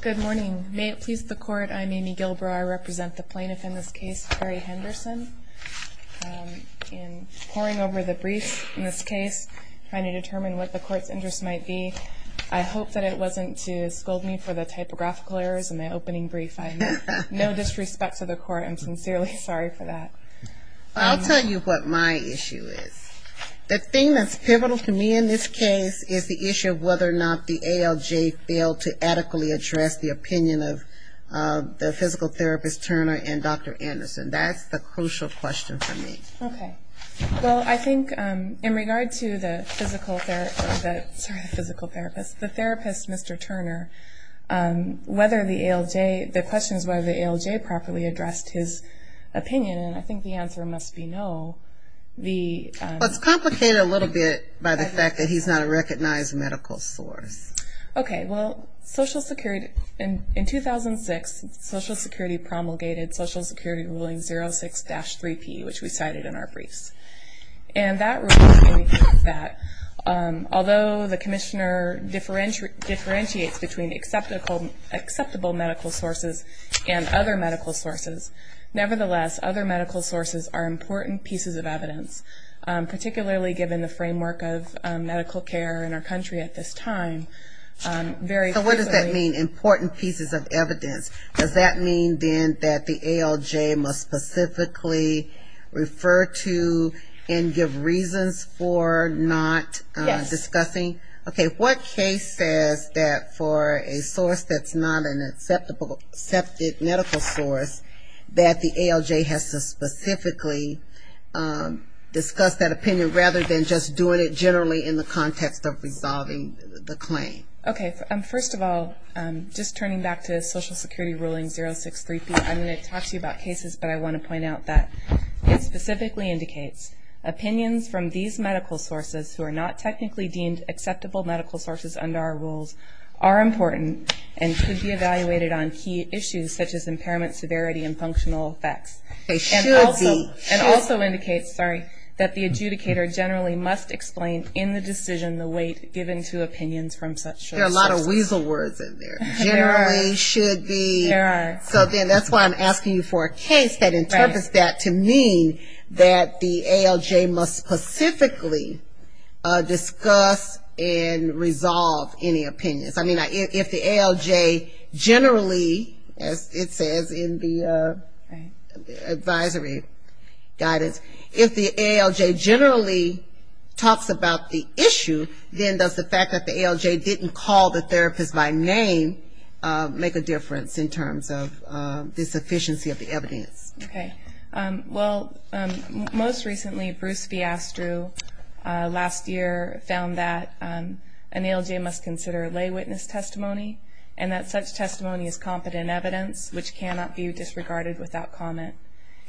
Good morning. May it please the court, I'm Amy Gilbrow. I represent the plaintiff in this case, Terry Henderson. In poring over the brief in this case, trying to determine what the court's interest might be, I hope that it wasn't to scold me for the typographical errors in the opening brief. I have no disrespect to the court. I'm sincerely sorry for that. I'll tell you what my issue is. The thing that's pivotal to me in this case is the issue of whether or not the ALJ failed to adequately address the opinion of the physical therapist, Turner, and Dr. Anderson. That's the crucial question for me. Okay. Well, I think in regard to the physical therapist, the therapist, Mr. Turner, whether the ALJ, the question is whether the ALJ properly addressed his opinion, and I think the answer must be no. Well, it's complicated a little bit by the fact that he's not a recognized medical source. Okay. Well, in 2006, Social Security promulgated Social Security Ruling 06-3P, which we cited in our briefs. And that rule states that although the commissioner differentiates between acceptable medical sources and other medical sources, nevertheless, other medical sources are important pieces of evidence, particularly given the framework of medical care in our country at this time. So what does that mean, important pieces of evidence? Does that mean then that the ALJ must specifically refer to and give reasons for not discussing? Yes. Okay. What case says that for a source that's not an acceptable medical source, that the ALJ has to specifically discuss that opinion rather than just doing it generally in the context of resolving the claim? Okay. First of all, just turning back to Social Security Ruling 06-3P, I'm going to talk to you about cases, but I want to point out that it specifically indicates opinions from these medical sources, who are not technically deemed acceptable medical sources under our rules, are important and could be evaluated on key issues such as impairment, severity, and functional effects. They should be. And also indicates that the adjudicator generally must explain in the decision the weight given to opinions from such sources. There are a lot of weasel words in there. There are. Generally should be. There are. So then that's why I'm asking you for a case that interprets that to mean that the ALJ must specifically discuss and resolve any opinions. I mean, if the ALJ generally, as it says in the advisory guidance, if the ALJ generally talks about the issue, then does the fact that the ALJ didn't call the therapist by name make a difference in terms of this efficiency of the evidence? Okay. Well, most recently Bruce Fiasco last year found that an ALJ must consider lay witness testimony and that such testimony is competent evidence, which cannot be disregarded without comment.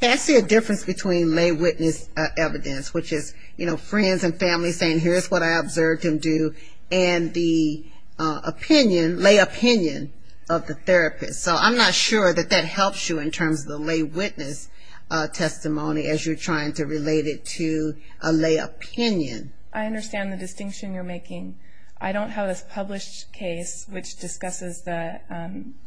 I see a difference between lay witness evidence, which is, you know, friends and family saying here's what I observed him do, and the opinion, lay opinion of the therapist. So I'm not sure that that helps you in terms of the lay witness testimony as you're trying to relate it to a lay opinion. I don't have a published case which discusses the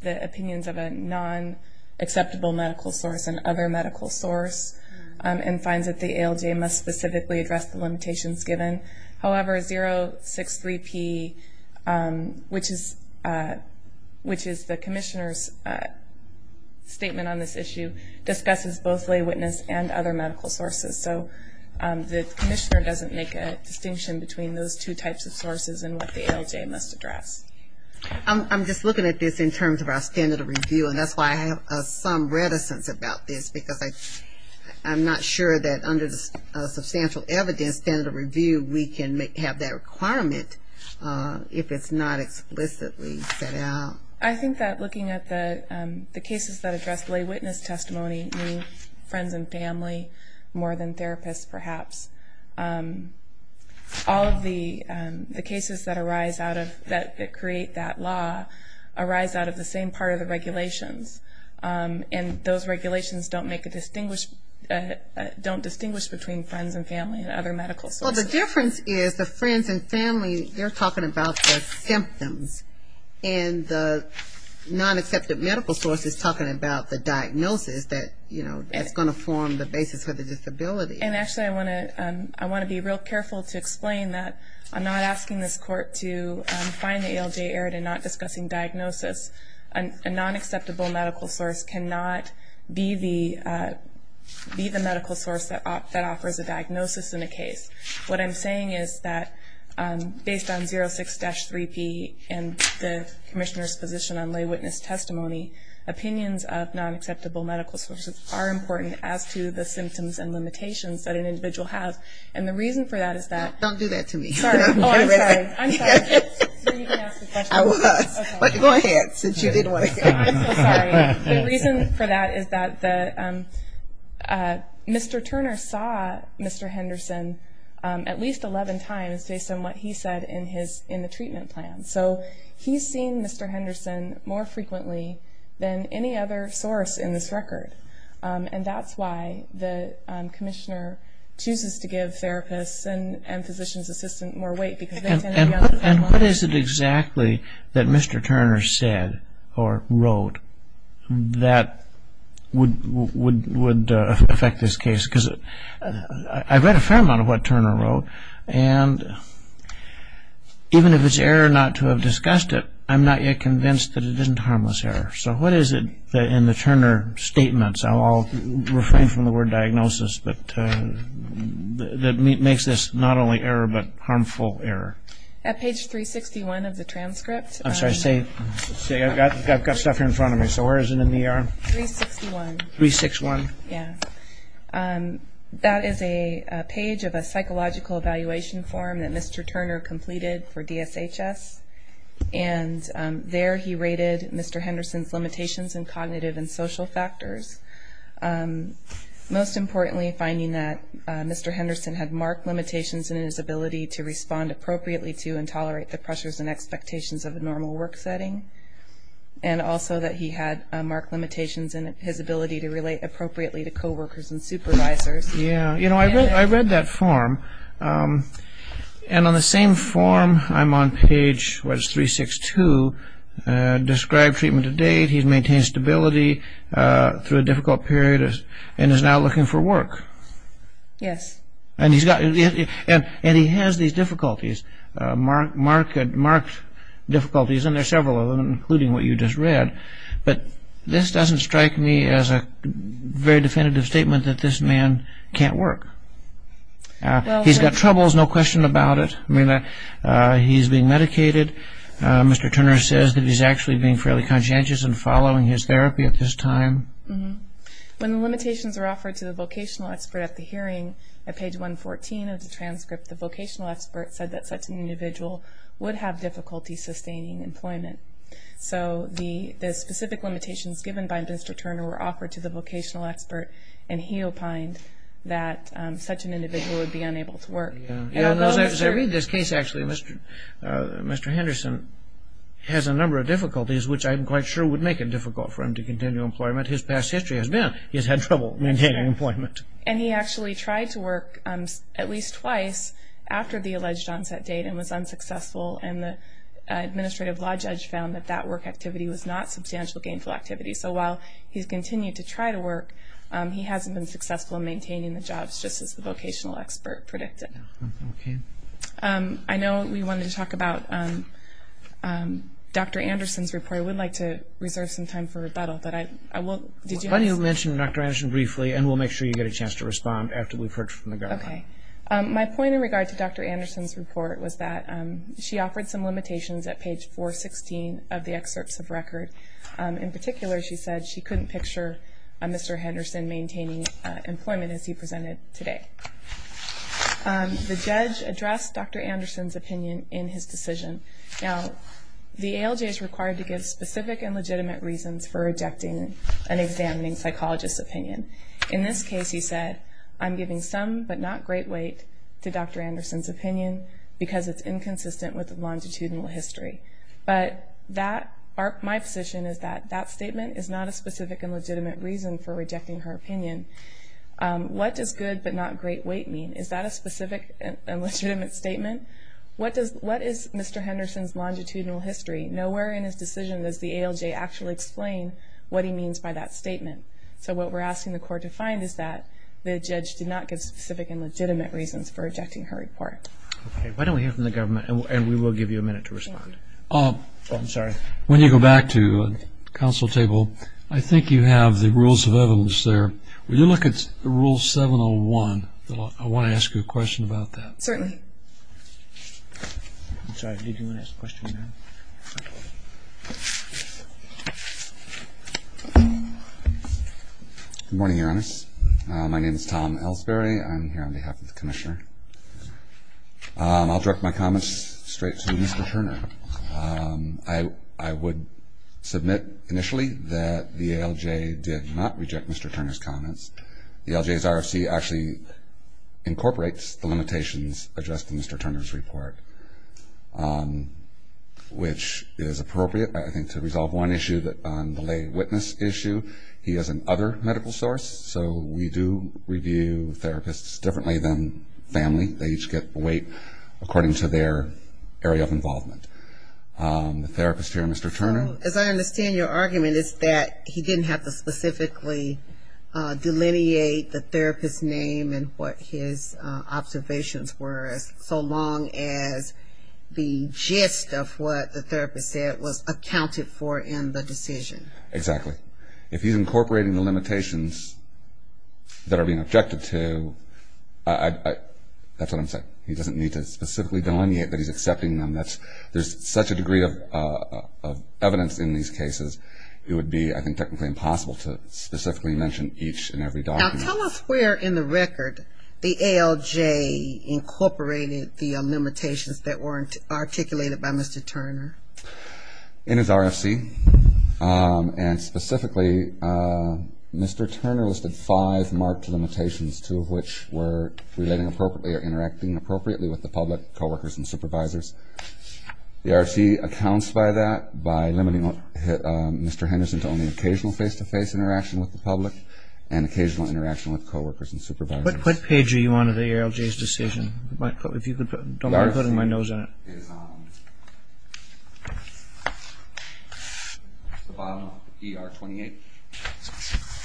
opinions of a non-acceptable medical source and other medical source and finds that the ALJ must specifically address the limitations given. However, 063P, which is the commissioner's statement on this issue, discusses both lay witness and other medical sources. So the commissioner doesn't make a distinction between those two types of sources and what the ALJ must address. I'm just looking at this in terms of our standard of review, and that's why I have some reticence about this, because I'm not sure that under the substantial evidence standard of review we can have that requirement if it's not explicitly set out. I think that looking at the cases that address lay witness testimony, meaning friends and family more than therapists perhaps, all of the cases that create that law arise out of the same part of the regulations, and those regulations don't distinguish between friends and family and other medical sources. Well, the difference is the friends and family, they're talking about the symptoms, and the non-accepted medical source is talking about the diagnosis that's going to form the basis for the disability. And actually, I want to be real careful to explain that I'm not asking this court to find the ALJ errant and not discussing diagnosis. A non-acceptable medical source cannot be the medical source that offers a diagnosis in a case. What I'm saying is that based on 06-3P and the commissioner's position on lay witness testimony, opinions of non-acceptable medical sources are important as to the symptoms and limitations that an individual has. And the reason for that is that ‑‑ Don't do that to me. Sorry. Oh, I'm sorry. I'm sorry. I was. Go ahead, since you didn't want to hear it. I'm so sorry. The reason for that is that Mr. Turner saw Mr. Henderson at least 11 times based on what he said in the treatment plan. So he's seen Mr. Henderson more frequently than any other source in this record, and that's why the commissioner chooses to give therapists and physician's assistants more weight, because they tend to be on the phone a lot. And what is it exactly that Mr. Turner said or wrote that would affect this case? Because I read a fair amount of what Turner wrote, and even if it's error not to have discussed it, I'm not yet convinced that it isn't harmless error. So what is it in the Turner statements, I'll refrain from the word diagnosis, that makes this not only error but harmful error? At page 361 of the transcript. I'm sorry. I've got stuff here in front of me. So where is it in the ER? 361. 361. Yeah. That is a page of a psychological evaluation form that Mr. Turner completed for DSHS, and there he rated Mr. Henderson's limitations in cognitive and social factors, most importantly finding that Mr. Henderson had marked limitations in his ability to respond appropriately to and tolerate the pressures and expectations of a normal work setting, and also that he had marked limitations in his ability to relate appropriately to coworkers and supervisors. Yeah. You know, I read that form, and on the same form I'm on page, what is it, 362, described treatment to date, he's maintained stability through a difficult period, and is now looking for work. Yes. And he has these difficulties, marked difficulties, and there are several of them, including what you just read. But this doesn't strike me as a very definitive statement that this man can't work. He's got troubles, no question about it. I mean, he's being medicated. Mr. Turner says that he's actually being fairly conscientious in following his therapy at this time. When the limitations were offered to the vocational expert at the hearing, at page 114 of the transcript, the vocational expert said that such an individual would have difficulty sustaining employment. So the specific limitations given by Mr. Turner were offered to the vocational expert, and he opined that such an individual would be unable to work. As I read this case, actually, Mr. Henderson has a number of difficulties, which I'm quite sure would make it difficult for him to continue employment. His past history has been he's had trouble maintaining employment. And he actually tried to work at least twice after the alleged onset date and was unsuccessful, and the administrative law judge found that that work activity was not substantial gainful activity. So while he's continued to try to work, he hasn't been successful in maintaining the jobs, just as the vocational expert predicted. Okay. I know we wanted to talk about Dr. Anderson's report. I would like to reserve some time for rebuttal, but I will. Why don't you mention Dr. Anderson briefly, and we'll make sure you get a chance to respond after we've heard from the government. Okay. My point in regard to Dr. Anderson's report was that she offered some limitations at page 416 of the excerpts of record. In particular, she said she couldn't picture Mr. Henderson maintaining employment as he presented today. The judge addressed Dr. Anderson's opinion in his decision. Now, the ALJ is required to give specific and legitimate reasons for rejecting an examining psychologist's opinion. In this case, he said, I'm giving some but not great weight to Dr. Anderson's opinion because it's inconsistent with the longitudinal history. But my position is that that statement is not a specific and legitimate reason for rejecting her opinion. What does good but not great weight mean? Is that a specific and legitimate statement? What is Mr. Henderson's longitudinal history? Nowhere in his decision does the ALJ actually explain what he means by that statement. So what we're asking the court to find is that the judge did not give specific and legitimate reasons for rejecting her report. Okay. Why don't we hear from the government, and we will give you a minute to respond. I'm sorry. When you go back to the council table, I think you have the rules of evidence there. Will you look at Rule 701? I want to ask you a question about that. Certainly. I'm sorry. Did you want to ask a question? Good morning, Your Honor. My name is Tom Elsberry. I'm here on behalf of the commissioner. I'll direct my comments straight to Mr. Turner. I would submit initially that the ALJ did not reject Mr. Turner's comments. The ALJ's RFC actually incorporates the limitations addressed in Mr. Turner's report, which is appropriate, I think, to resolve one issue on the lay witness issue. He is an other medical source, so we do review therapists differently than family. They each get weight according to their area of involvement. The therapist here, Mr. Turner. As I understand your argument, it's that he didn't have to specifically delineate the therapist's name and what his observations were so long as the gist of what the therapist said was accounted for in the decision. Exactly. If he's incorporating the limitations that are being objected to, that's what I'm saying. He doesn't need to specifically delineate that he's accepting them. There's such a degree of evidence in these cases, it would be I think technically impossible to specifically mention each and every document. Now, tell us where in the record the ALJ incorporated the limitations that were articulated by Mr. Turner. In his RFC. And specifically, Mr. Turner listed five marked limitations, two of which were relating appropriately or interacting appropriately with the public, co-workers and supervisors. The RFC accounts by that by limiting Mr. Henderson to only occasional face-to-face interaction with the public and occasional interaction with co-workers and supervisors. What page are you on in the ALJ's decision? Don't mind putting my nose in it. The bottom of ER 28.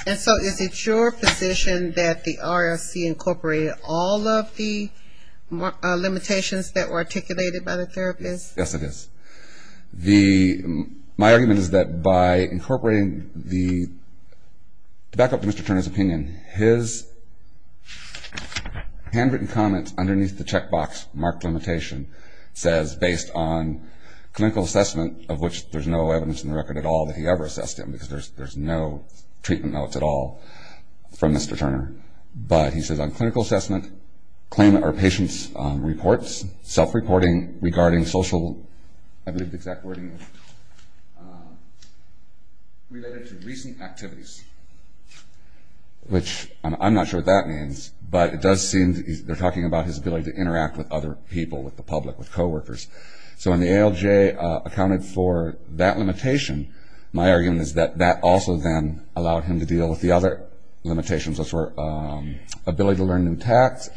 And so is it your position that the RFC incorporated all of the limitations that were articulated by the therapist? Yes, it is. My argument is that by incorporating the, to back up Mr. Turner's opinion, his handwritten comment underneath the checkbox marked limitation says based on clinical assessment, of which there's no evidence in the record at all that he ever assessed him, because there's no treatment notes at all from Mr. Turner. But he says on clinical assessment, claimant or patient's reports, self-reporting regarding social, I believe the exact wording, related to recent activities, which I'm not sure what that means, but it does seem they're talking about his ability to interact with other people, with the public, with co-workers. So when the ALJ accounted for that limitation, my argument is that that also then allowed him to deal with the other limitations, which were ability to learn new tasks,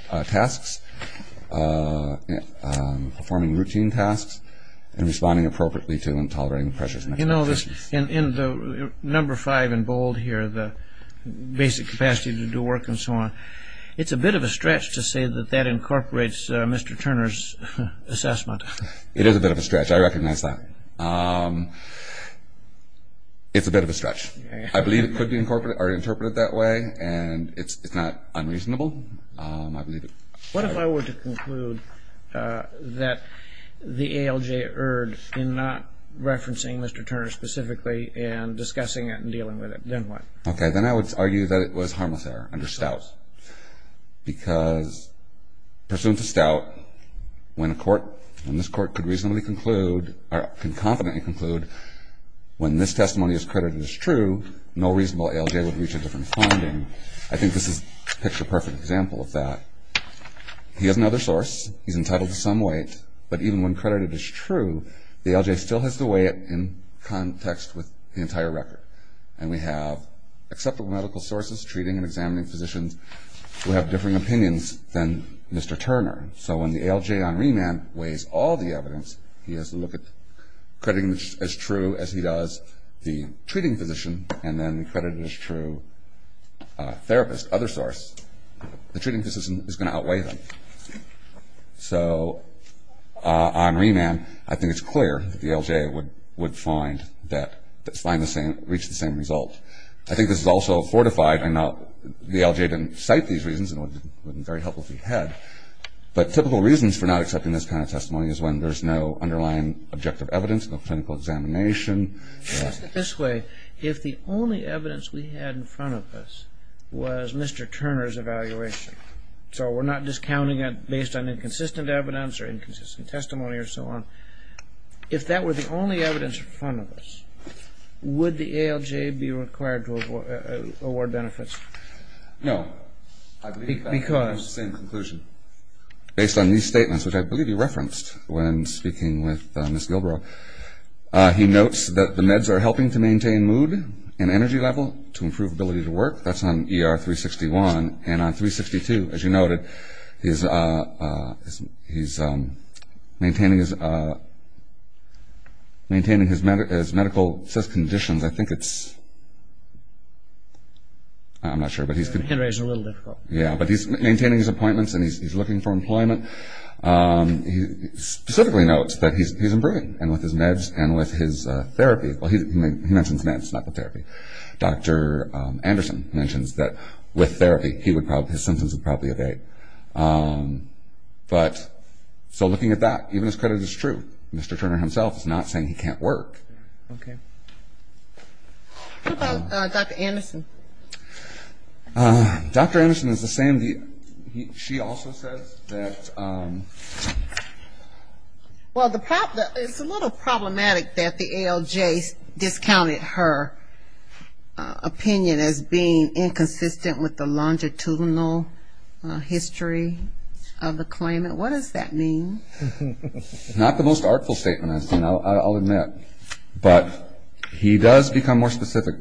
performing routine tasks, and responding appropriately to and tolerating pressures. You know, in the number five in bold here, the basic capacity to do work and so on, it's a bit of a stretch to say that that incorporates Mr. Turner's assessment. It is a bit of a stretch. It's a bit of a stretch. I believe it could be interpreted that way. And it's not unreasonable. I believe it. What if I were to conclude that the ALJ erred in not referencing Mr. Turner specifically and discussing it and dealing with it? Then what? Okay. Then I would argue that it was harmless error under Stout, because pursuant to Stout, when this court can confidently conclude when this testimony is credited as true, no reasonable ALJ would reach a different finding. I think this is a picture-perfect example of that. He has another source. He's entitled to some weight. But even when credited as true, the ALJ still has to weigh it in context with the entire record. And we have acceptable medical sources treating and examining physicians who have differing opinions than Mr. Turner. So when the ALJ on remand weighs all the evidence, he has to look at crediting as true as he does the treating physician and then the credited as true therapist, other source. The treating physician is going to outweigh them. So on remand, I think it's clear that the ALJ would find the same, reach the same result. I think this is also fortified. The ALJ didn't cite these reasons, and it wouldn't be very helpful if he had. But typical reasons for not accepting this kind of testimony is when there's no underlying objective evidence, no clinical examination. Let's put it this way. If the only evidence we had in front of us was Mr. Turner's evaluation, so we're not discounting it based on inconsistent evidence or inconsistent testimony or so on, if that were the only evidence in front of us, would the ALJ be required to award benefits? No. Because? Based on these statements, which I believe he referenced when speaking with Ms. Gilbrow, he notes that the meds are helping to maintain mood and energy level to improve ability to work. That's on ER 361. And on 362, as you noted, he's maintaining his medical conditions. I think it's, I'm not sure, but he's maintaining his appointments, and he's looking for employment. He specifically notes that he's improving, and with his meds and with his therapy. Well, he mentions meds, not the therapy. Dr. Anderson mentions that with therapy, his symptoms would probably evade. But so looking at that, even his credit is true. Mr. Turner himself is not saying he can't work. Okay. What about Dr. Anderson? Dr. Anderson is the same. She also says that... Well, it's a little problematic that the ALJ discounted her opinion as being inconsistent with the longitudinal history of the claimant. What does that mean? Not the most artful statement, I'll admit. But he does become more specific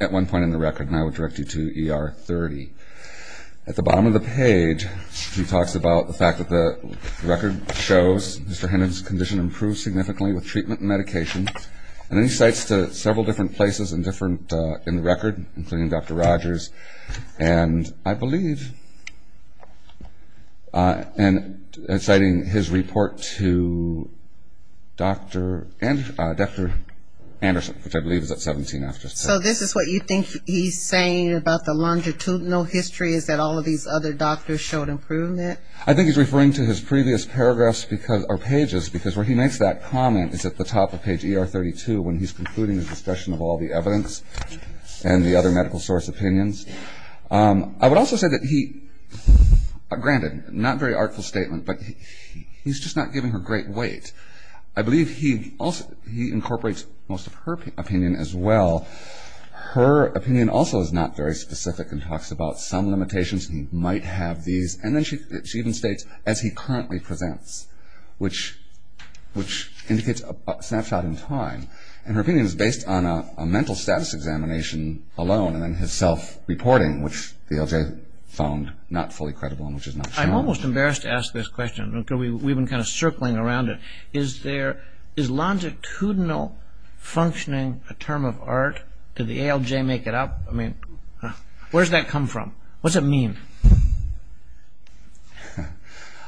at one point in the record, and I would direct you to ER 30. At the bottom of the page, he talks about the fact that the record shows Mr. Hendon's condition improved significantly with treatment and medication. And then he cites several different places in the record, including Dr. Rogers, and I believe, and citing his report to Dr. Anderson, which I believe is at 17 after. So this is what you think he's saying about the longitudinal history, is that all of these other doctors showed improvement? I think he's referring to his previous paragraphs or pages, because where he makes that comment is at the top of page ER 32, when he's concluding his discussion of all the evidence and the other medical source opinions. I would also say that he, granted, not a very artful statement, but he's just not giving her great weight. I believe he incorporates most of her opinion as well. Her opinion also is not very specific and talks about some limitations, and he might have these. And then she even states, as he currently presents, which indicates a snapshot in time. And her opinion is based on a mental status examination alone, and then his self-reporting, which the LJ found not fully credible and which is not so much. I'm just embarrassed to ask this question. We've been kind of circling around it. Is longitudinal functioning a term of art? Did the ALJ make it up? I mean, where's that come from? What's it mean?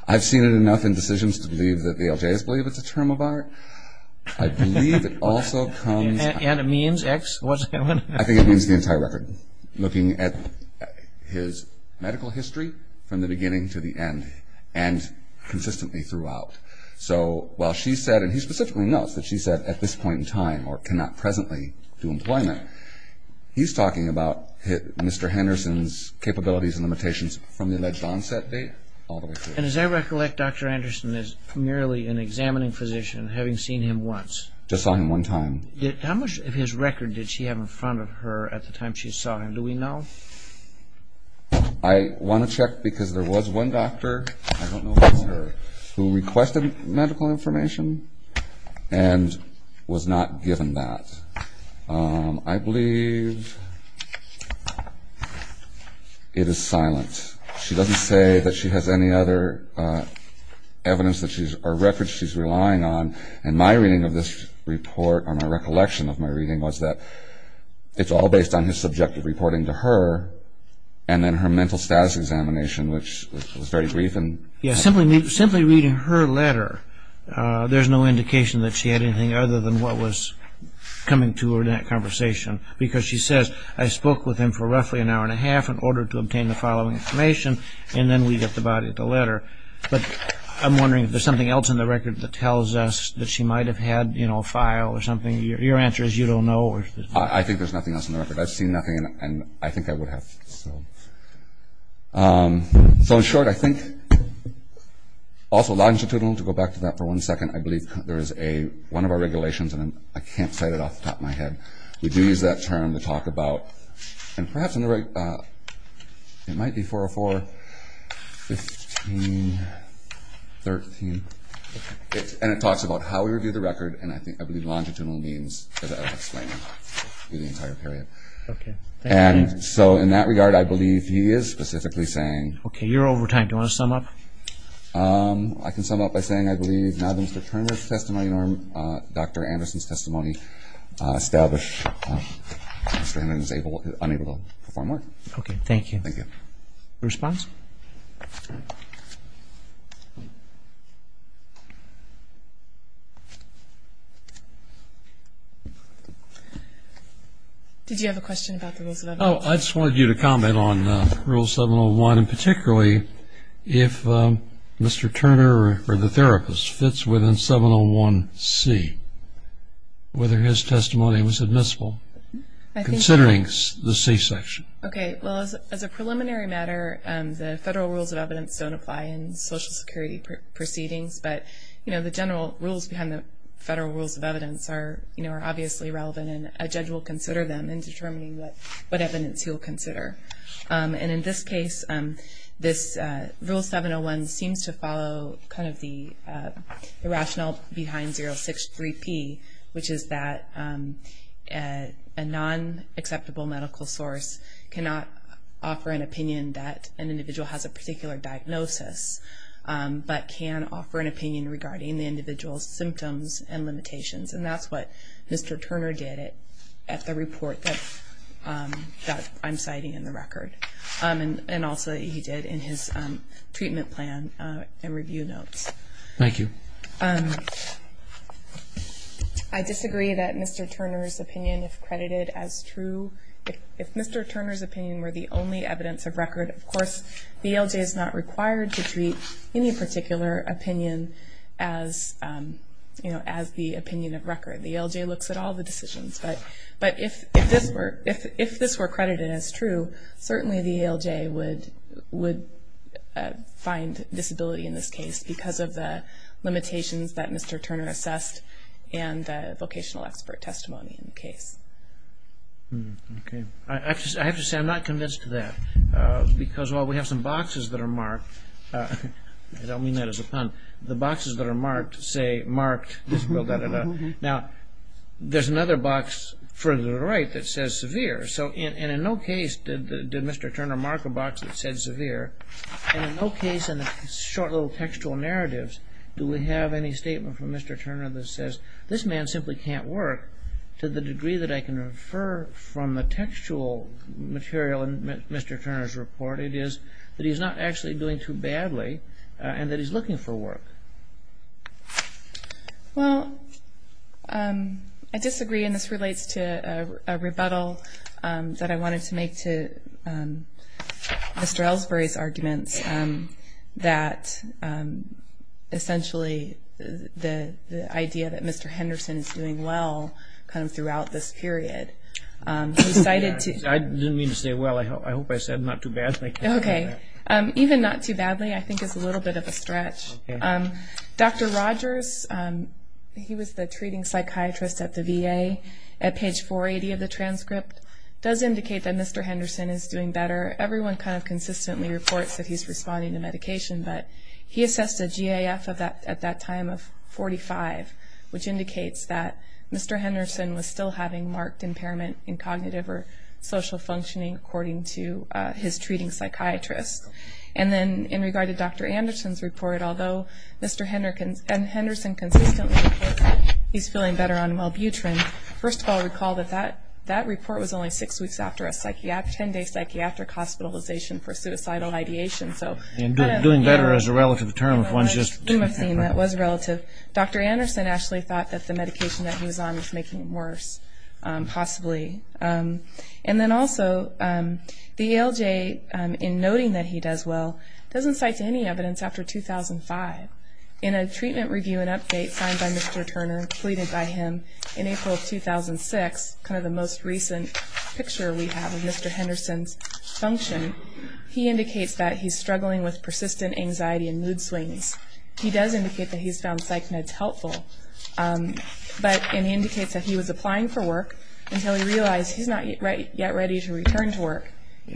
I've seen it enough in decisions to believe that the ALJ has believed it's a term of art. I believe it also comes... And it means X? I think it means the entire record. Looking at his medical history from the beginning to the end and consistently throughout. So while she said, and he specifically notes that she said, at this point in time or cannot presently do employment, he's talking about Mr. Henderson's capabilities and limitations from the alleged onset date all the way through. And as I recollect, Dr. Anderson is merely an examining physician, having seen him once. Just saw him one time. How much of his record did she have in front of her at the time she saw him? Do we know? I want to check because there was one doctor, I don't know if it was her, who requested medical information and was not given that. I believe it is silent. She doesn't say that she has any other evidence or records she's relying on. And my reading of this report, or my recollection of my reading, was that it's all based on his subjective reporting to her and then her mental status examination, which was very brief. Simply reading her letter, there's no indication that she had anything other than what was coming to her in that conversation. Because she says, I spoke with him for roughly an hour and a half in order to obtain the following information, and then we get the body of the letter. But I'm wondering if there's something else in the record that tells us that she might have had a file or something. Your answer is you don't know. I think there's nothing else in the record. I've seen nothing, and I think I would have. So in short, I think, also longitudinal, to go back to that for one second, I believe there is one of our regulations, and I can't say it off the top of my head, we do use that term to talk about, and perhaps in the right, it might be 404-15-13. And it talks about how we review the record, and I believe longitudinal means as I was explaining through the entire period. And so in that regard, I believe he is specifically saying. Okay, you're over time. Do you want to sum up? I can sum up by saying I believe, now that Mr. Turner's testimony and Dr. Anderson's testimony establish that Mr. Anderson is unable to perform work. Okay, thank you. Thank you. Response? Did you have a question about the Rules of Elevation? Oh, I just wanted you to comment on Rule 701, and particularly if Mr. Turner or the therapist fits within 701C, whether his testimony was admissible, considering the C section. Okay, well, as a preliminary matter, the Federal Rules of Evidence don't apply in Social Security proceedings, but the general rules behind the Federal Rules of Evidence are obviously relevant, and a judge will consider them in determining what evidence he will consider. And in this case, this Rule 701 seems to follow kind of the rationale behind 063P, which is that a non-acceptable medical source cannot offer an opinion that an individual has a particular diagnosis, but can offer an opinion regarding the individual's symptoms and limitations. And that's what Mr. Turner did at the report that I'm citing in the record, and also he did in his treatment plan and review notes. Thank you. I disagree that Mr. Turner's opinion is credited as true. If Mr. Turner's opinion were the only evidence of record, of course the ELJ is not required to treat any particular opinion as the opinion of record. The ELJ looks at all the decisions. But if this were credited as true, certainly the ELJ would find disability in this case because of the limitations that Mr. Turner assessed and the vocational expert testimony in the case. Okay. I have to say I'm not convinced of that. Because while we have some boxes that are marked, I don't mean that as a pun, the boxes that are marked say marked, disabled, da-da-da. Now, there's another box further to the right that says severe. So in no case did Mr. Turner mark a box that said severe. And in no case in the short little textual narratives do we have any statement from Mr. Turner that says, this man simply can't work to the degree that I can refer from the textual material in Mr. Turner's report. It is that he's not actually doing too badly and that he's looking for work. Well, I disagree, and this relates to a rebuttal that I wanted to make to Mr. Ellsbury's arguments that essentially the idea that Mr. Henderson is doing well kind of throughout this period. I didn't mean to say well. I hope I said not too bad. Okay. Even not too badly I think is a little bit of a stretch. Dr. Rogers, he was the treating psychiatrist at the VA. At page 480 of the transcript does indicate that Mr. Henderson is doing better. Everyone kind of consistently reports that he's responding to medication, but he assessed a GAF at that time of 45, which indicates that Mr. Henderson was still having marked impairment in cognitive or social functioning according to his treating psychiatrist. And then in regard to Dr. Anderson's report, although Mr. Henderson consistently reports that he's feeling better on Welbutrin, first of all recall that that report was only six weeks after a 10-day psychiatric hospitalization for suicidal ideation. Doing better is a relative term. That was relative. Dr. Anderson actually thought that the medication that he was on was making him worse, possibly. And then also the ALJ, in noting that he does well, doesn't cite any evidence after 2005. In a treatment review and update signed by Mr. Turner, completed by him in April of 2006, kind of the most recent picture we have of Mr. Henderson's function, he indicates that he's struggling with persistent anxiety and mood swings. He does indicate that he's found psych meds helpful, but indicates that he was applying for work until he realized he's not yet ready to return to work.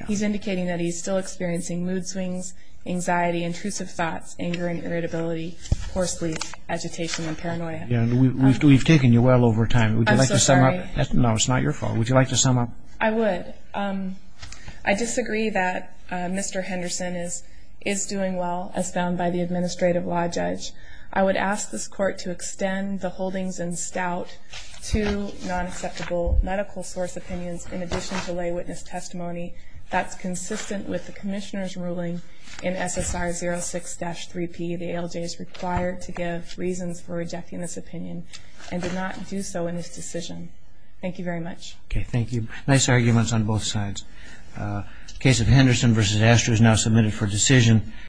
He's indicating that he's still experiencing mood swings, anxiety, intrusive thoughts, anger and irritability, poor sleep, agitation and paranoia. We've taken you well over time. Would you like to sum up? I'm so sorry. No, it's not your fault. Would you like to sum up? I would. I disagree that Mr. Henderson is doing well, as found by the administrative law judge. I would ask this Court to extend the holdings in stout to non-acceptable medical source opinions in addition to lay witness testimony that's consistent with the Commissioner's ruling in SSR 06-3P. The ALJ is required to give reasons for rejecting this opinion and did not do so in this decision. Thank you very much. Okay, thank you. Nice arguments on both sides. The case of Henderson v. Astor is now submitted for decision.